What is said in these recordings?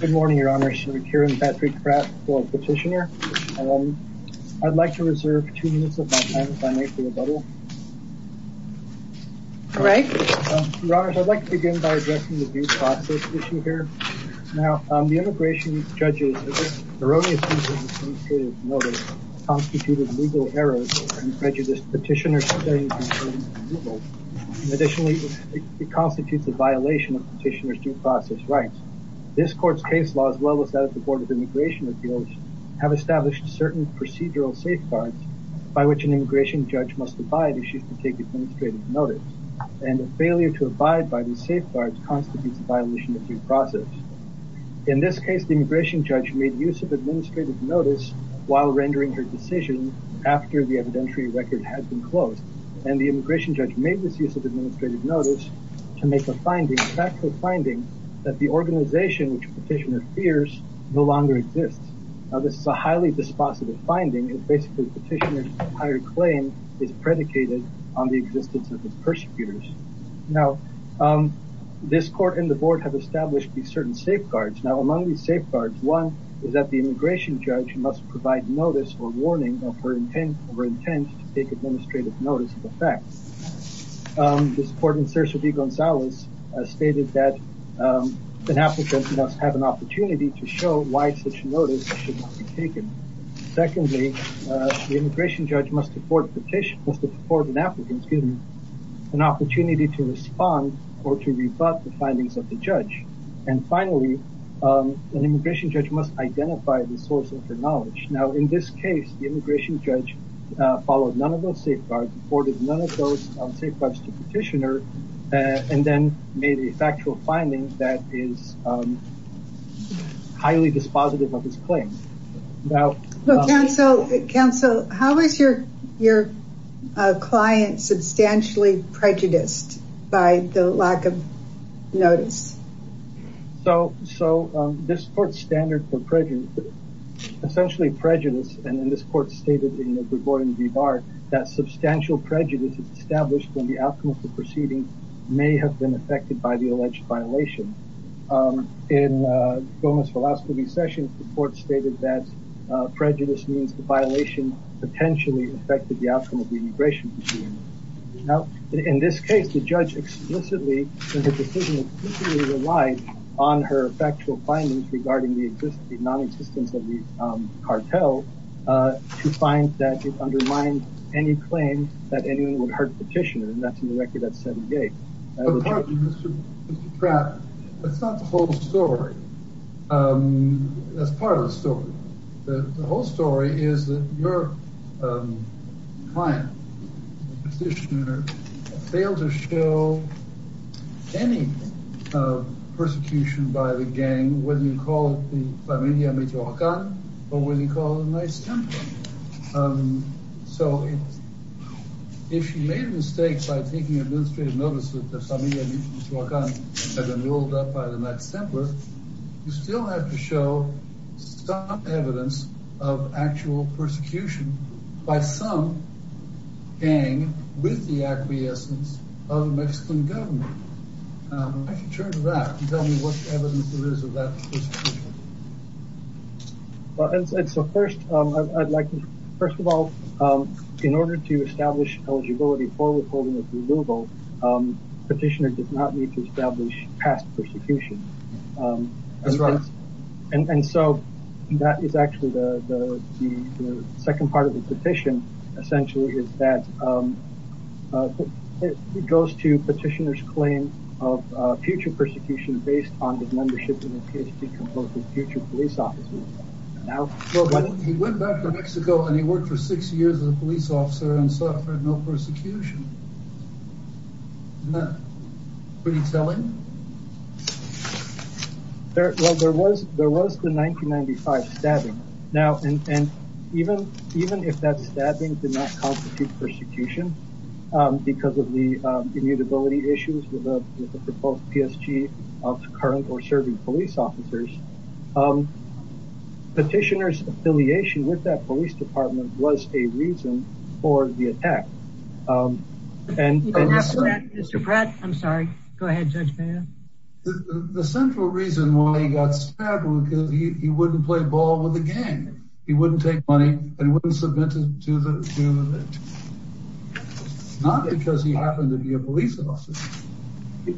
Good morning, Your Honors. I'm Kieran Patrick-Krafft, a petitioner. I'd like to reserve two minutes of my time if I may for rebuttal. Go right ahead. Your Honors, I'd like to begin by addressing the due process issue here. Now, the immigration judge's erroneous use of administrative notice constituted legal errors and prejudiced petitioners. Additionally, it constitutes a violation of petitioners' due process rights. This court's case law, as well as that of the Board of Immigration Appeals, have established certain procedural safeguards by which an immigration judge must abide if she is to take administrative notice. And a failure to abide by these safeguards constitutes a violation of due process. In this case, the immigration judge made use of administrative notice while rendering her decision after the evidentiary record had been closed. And the immigration judge made this use of administrative notice to make a finding, a factual finding, that the organization which a petitioner fears no longer exists. Now, this is a highly dispositive finding. It's basically a petitioner's prior claim is predicated on the existence of its persecutors. Now, this court and the board have established these certain safeguards. Now, among these safeguards, one is that the immigration judge must provide notice or warning of her intent to take administrative notice of the fact. This court in Cerce V. Gonzalez stated that an applicant must have an opportunity to show why such notice should not be taken. Secondly, the immigration judge must afford an applicant an opportunity to respond or to rebut the findings of the judge. And finally, an immigration judge must identify the source of her knowledge. Now, in this case, the immigration judge followed none of those safeguards, reported none of those safeguards to the petitioner, and then made a factual finding that is highly dispositive of this claim. Counsel, how is your client substantially prejudiced by the lack of notice? So, this court's standard for prejudice, essentially prejudice, and this court stated in the Burgoyne v. Bard, that substantial prejudice is established when the outcome of the proceeding may have been affected by the alleged violation. In Gomez-Velazquez v. Sessions, the court stated that prejudice means the violation potentially affected the outcome of the immigration proceeding. Now, in this case, the judge explicitly, in her decision, relied on her factual findings regarding the non-existence of the cartel to find that it undermined any claim that anyone would hurt the petitioner, and that's in the record at 7-8. But, pardon me, Mr. Trapp, that's not the whole story. That's part of the story. The whole story is that your client, the petitioner, failed to show any persecution by the gang, whether you call it the familia medio-racal or whether you call it a nice temper. So, if you made a mistake by taking administrative notice that the familia medio-racal had been ruled up by the nice temper, you still have to show some evidence of actual persecution by some gang with the acquiescence of the Mexican government. I'd like you to turn to that and tell me what evidence there is of that persecution. Well, as I said, first of all, in order to establish eligibility for withholding of removal, petitioner did not need to establish past persecution. That's right. And so that is actually the second part of the petition, essentially, is that it goes to petitioner's claim of future persecution based on the membership in the PSG composed of future police officers. He went back to Mexico and he worked for six years as a police officer and suffered no persecution. Isn't that pretty telling? Well, there was the 1995 stabbing. Now, even if that stabbing did not constitute persecution because of the immutability issues with the proposed PSG of current or serving police officers, petitioner's affiliation with that police department was a reason for the attack. Mr. Brett, I'm sorry. Go ahead, Judge Baird. The central reason why he got stabbed was because he wouldn't play ball with a gang. He wouldn't take money and wouldn't submit it to the victim. Not because he happened to be a police officer.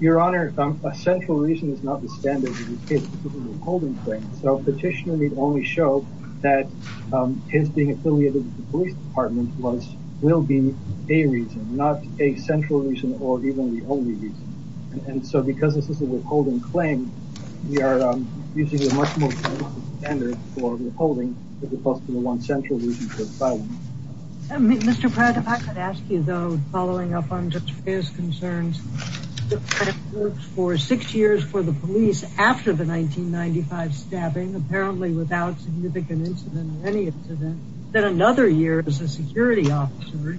Your Honor, a central reason is not the standard of the withholding claim. So petitioner need only show that his being affiliated with the police department will be a reason, not a central reason or even the only reason. And so because this is a withholding claim, we are using a much more standard for withholding as opposed to the one central reason for the stabbing. Mr. Pratt, if I could ask you, though, following up on Judge Baird's concerns, for six years for the police after the 1995 stabbing, apparently without significant incident or any incident, then another year as a security officer,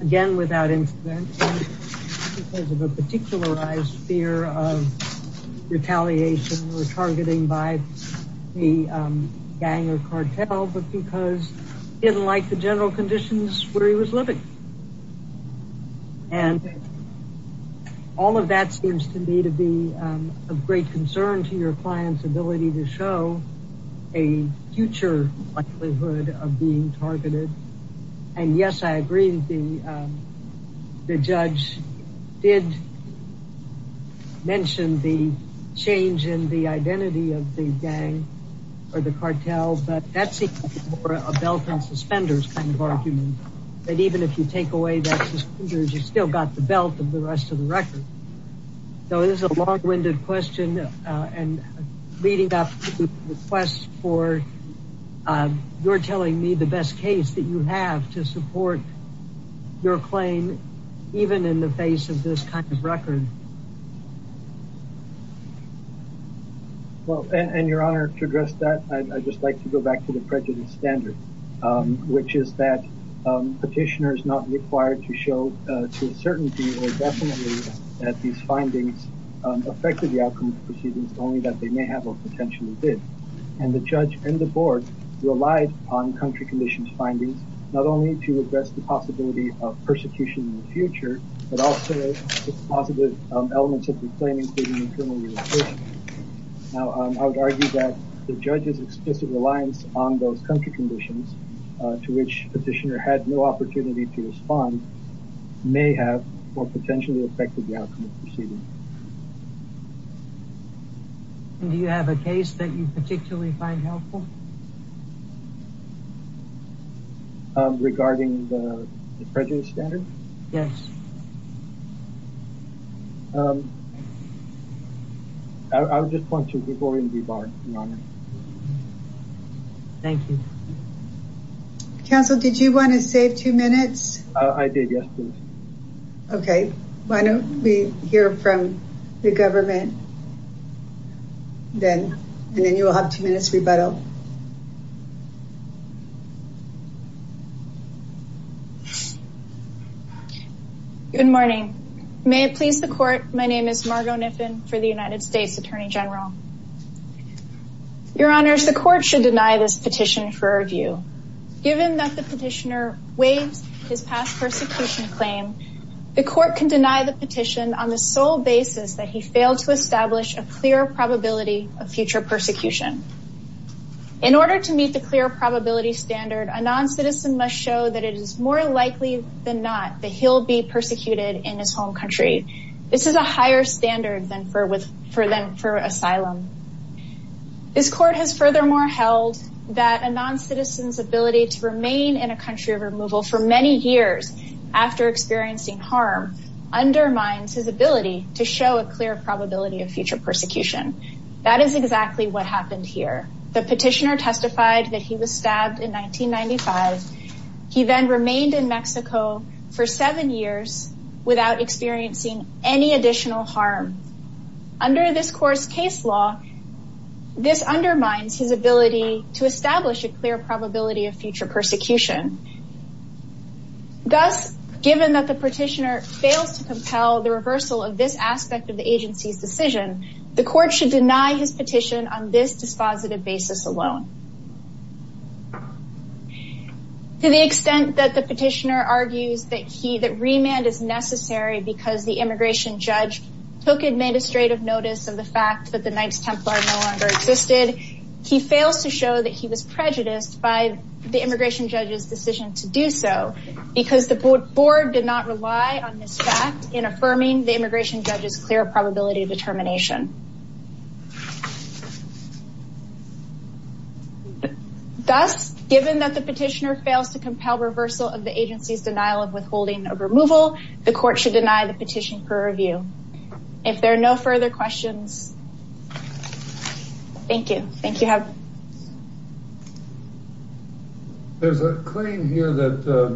again without incident, because of a particularized fear of retaliation or targeting by the gang or cartel, but because he didn't like the general conditions where he was living. And all of that seems to me to be of great concern to your client's ability to show a future likelihood of being targeted. And yes, I agree. The judge did mention the change in the identity of the gang or the cartel, but that's a belt and suspenders kind of argument, that even if you take away that suspenders, you still got the belt of the rest of the record. So this is a long-winded question and leading up to requests for you're telling me the best case that you have to support your claim, even in the face of this kind of record. Well, and your Honor, to address that, I'd just like to go back to the prejudice standard, which is that petitioners not required to show to a certainty or definitely that these findings affected the outcome of the proceedings, only that they may have or potentially did. And the judge and the board relied on country conditions findings, not only to address the possibility of persecution in the future, but also positive elements of reclaiming. Now, I would argue that the judge's explicit reliance on those country conditions to which petitioner had no opportunity to respond may have or potentially affected the outcome of proceedings. And do you have a case that you particularly find helpful? Regarding the prejudice standard? Yes. I would just want to be boring. Thank you. Counsel, did you want to save two minutes? I did. Yes. Okay. Why don't we hear from the government? Then, and then you will have two minutes rebuttal. Good morning. May it please the court. My name is Margo Kniffen for the United States Attorney General. Your Honors, the court should deny this petition for review. Given that the petitioner waives his past persecution claim, the court can deny the petition on the sole basis that he failed to establish a clear probability of future persecution. In order to meet the clear probability standard, a non-citizen must show that it is more likely than not that he'll be persecuted in his home country. This is a higher standard than for with, for them, for asylum. This court has furthermore held that a non-citizen's ability to remain in a home country without experiencing harm undermines his ability to show a clear probability of future persecution. That is exactly what happened here. The petitioner testified that he was stabbed in 1995. He then remained in Mexico for seven years without experiencing any additional harm. Under this court's case law, this undermines his ability to establish a clear probability of future persecution. Thus, given that the petitioner fails to compel the reversal of this aspect of the agency's decision, the court should deny his petition on this dispositive basis alone. To the extent that the petitioner argues that he, that remand is necessary because the immigration judge took administrative notice of the fact that the Knights Templar no longer existed, he fails to show that he was prejudiced by the immigration judge's decision to do so because the board did not rely on this fact in affirming the immigration judge's clear probability of determination. Thus, given that the petitioner fails to compel reversal of the agency's denial of withholding of removal, the court should deny the petition for review. If there are no further questions. Thank you. Thank you. Have. There's a claim here that, uh,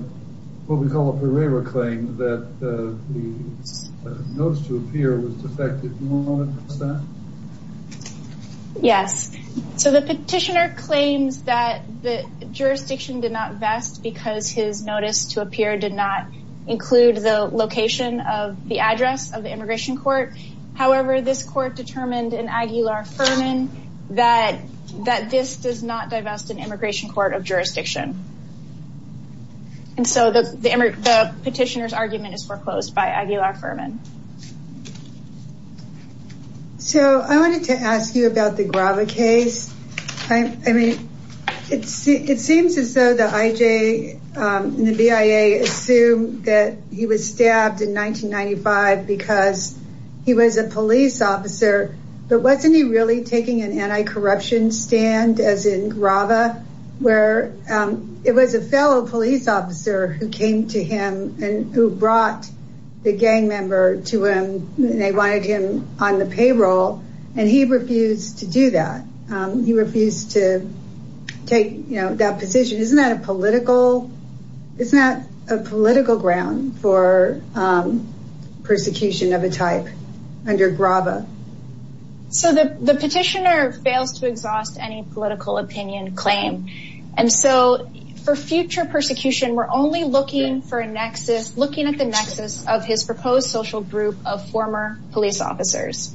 what we call up a waiver claim that, uh, the notice to appear was defective. Yes. So the petitioner claims that the jurisdiction did not vest because his notice to appear did not include the location of the address of the immigration court. However, this court determined an Aguilar-Furman that, that this does not divest an immigration court of jurisdiction. And so the, the petitioner's argument is foreclosed by Aguilar-Furman. So I wanted to ask you about the Grava case. I mean, it's, it seems as though the IJ and the BIA assume that he was stabbed in 1995 because he was a police officer, but wasn't he really taking an anti-corruption stand as in Grava where, um, it was a fellow police officer who came to him and who brought the gang member to him. They wanted him on the payroll and he refused to do that. Um, he refused to take that position. Isn't that a political, isn't that a political ground for, um, persecution of a type under Grava? So the, the petitioner fails to exhaust any political opinion claim. And so for future persecution, we're only looking for a nexus, looking at the nexus of his proposed social group of former police officers.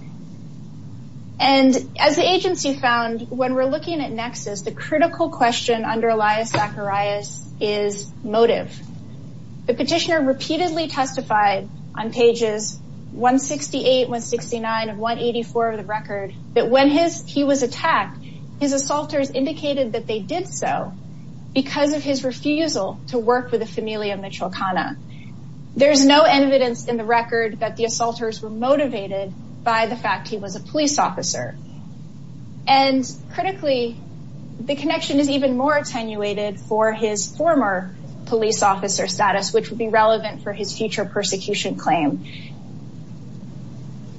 And as the agency found when we're looking at nexus, the critical question under Elias Zacharias is motive. The petitioner repeatedly testified on pages 168, 169 and 184 of the record that when his, he was attacked, his assaulters indicated that they did so because of his refusal to work with the family of Mitchell Kanna. There's no evidence in the record that the assaulters were motivated by the fact he was a police officer. And critically, the connection is even more attenuated for his former police officer status, which would be relevant for his future persecution claim.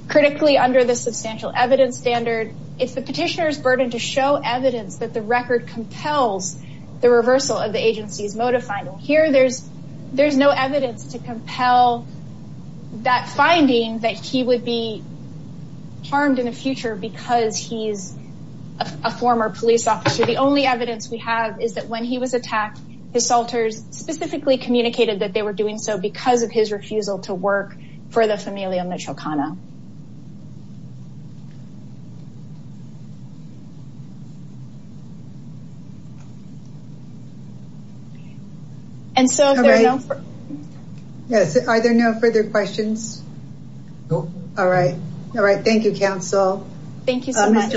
Critically under the substantial evidence standard, it's the petitioner's burden to show evidence that the record compels the reversal of the agency's motive finding here. There's, there's no evidence to compel that finding that he would be harmed in the future because he's a former police officer. The only evidence we have is that when he was attacked, his assaulters specifically communicated that they were doing so because of his refusal to work for the family of Mitchell Kanna. Yes. Are there no further questions? Nope. All right. All right. Thank you, council. Thank you so much.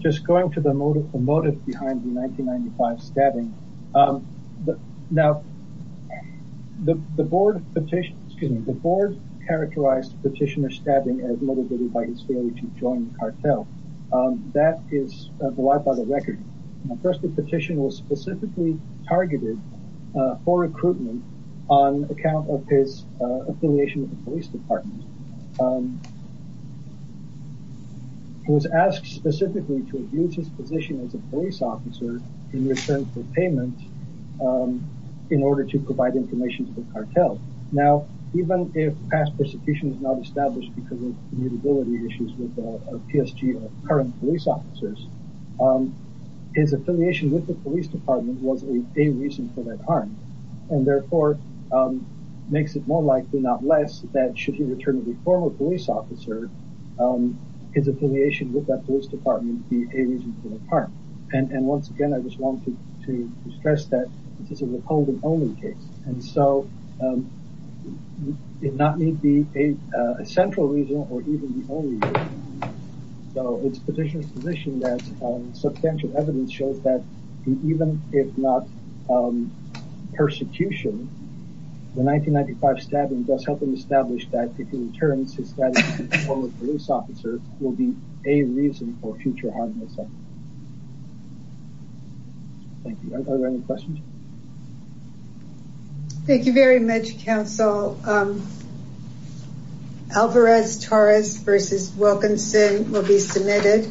Just going to the motive, the motive behind the 1995 stabbing. Now the board petition, excuse me, the board characterized petitioner stabbing as motivated by his failure to join the cartel. That is the life of the record. First the petition was specifically targeted for recruitment on account of his affiliation with the police department. It was asked specifically to abuse his position as a police officer in return for payment in order to provide information to the cartel. Now, even if past persecution is not established because of mutability issues with a PSG or current police officers, his affiliation with the police department was a reason for that harm and therefore makes it more likely, not less, that should he return to the former police officer, his affiliation with that police department would be a reason for the harm. And once again, I just wanted to stress that this is a recalling only case. And so it not need be a central reason or even the only reason. So it's petitioner's position that substantial evidence shows that even if past persecution, the 1995 stabbing does help him establish that if he returns, his status as a former police officer will be a reason for future harm. Thank you. Are there any questions? Thank you very much, council. Alvarez-Torres versus Wilkinson will be submitted.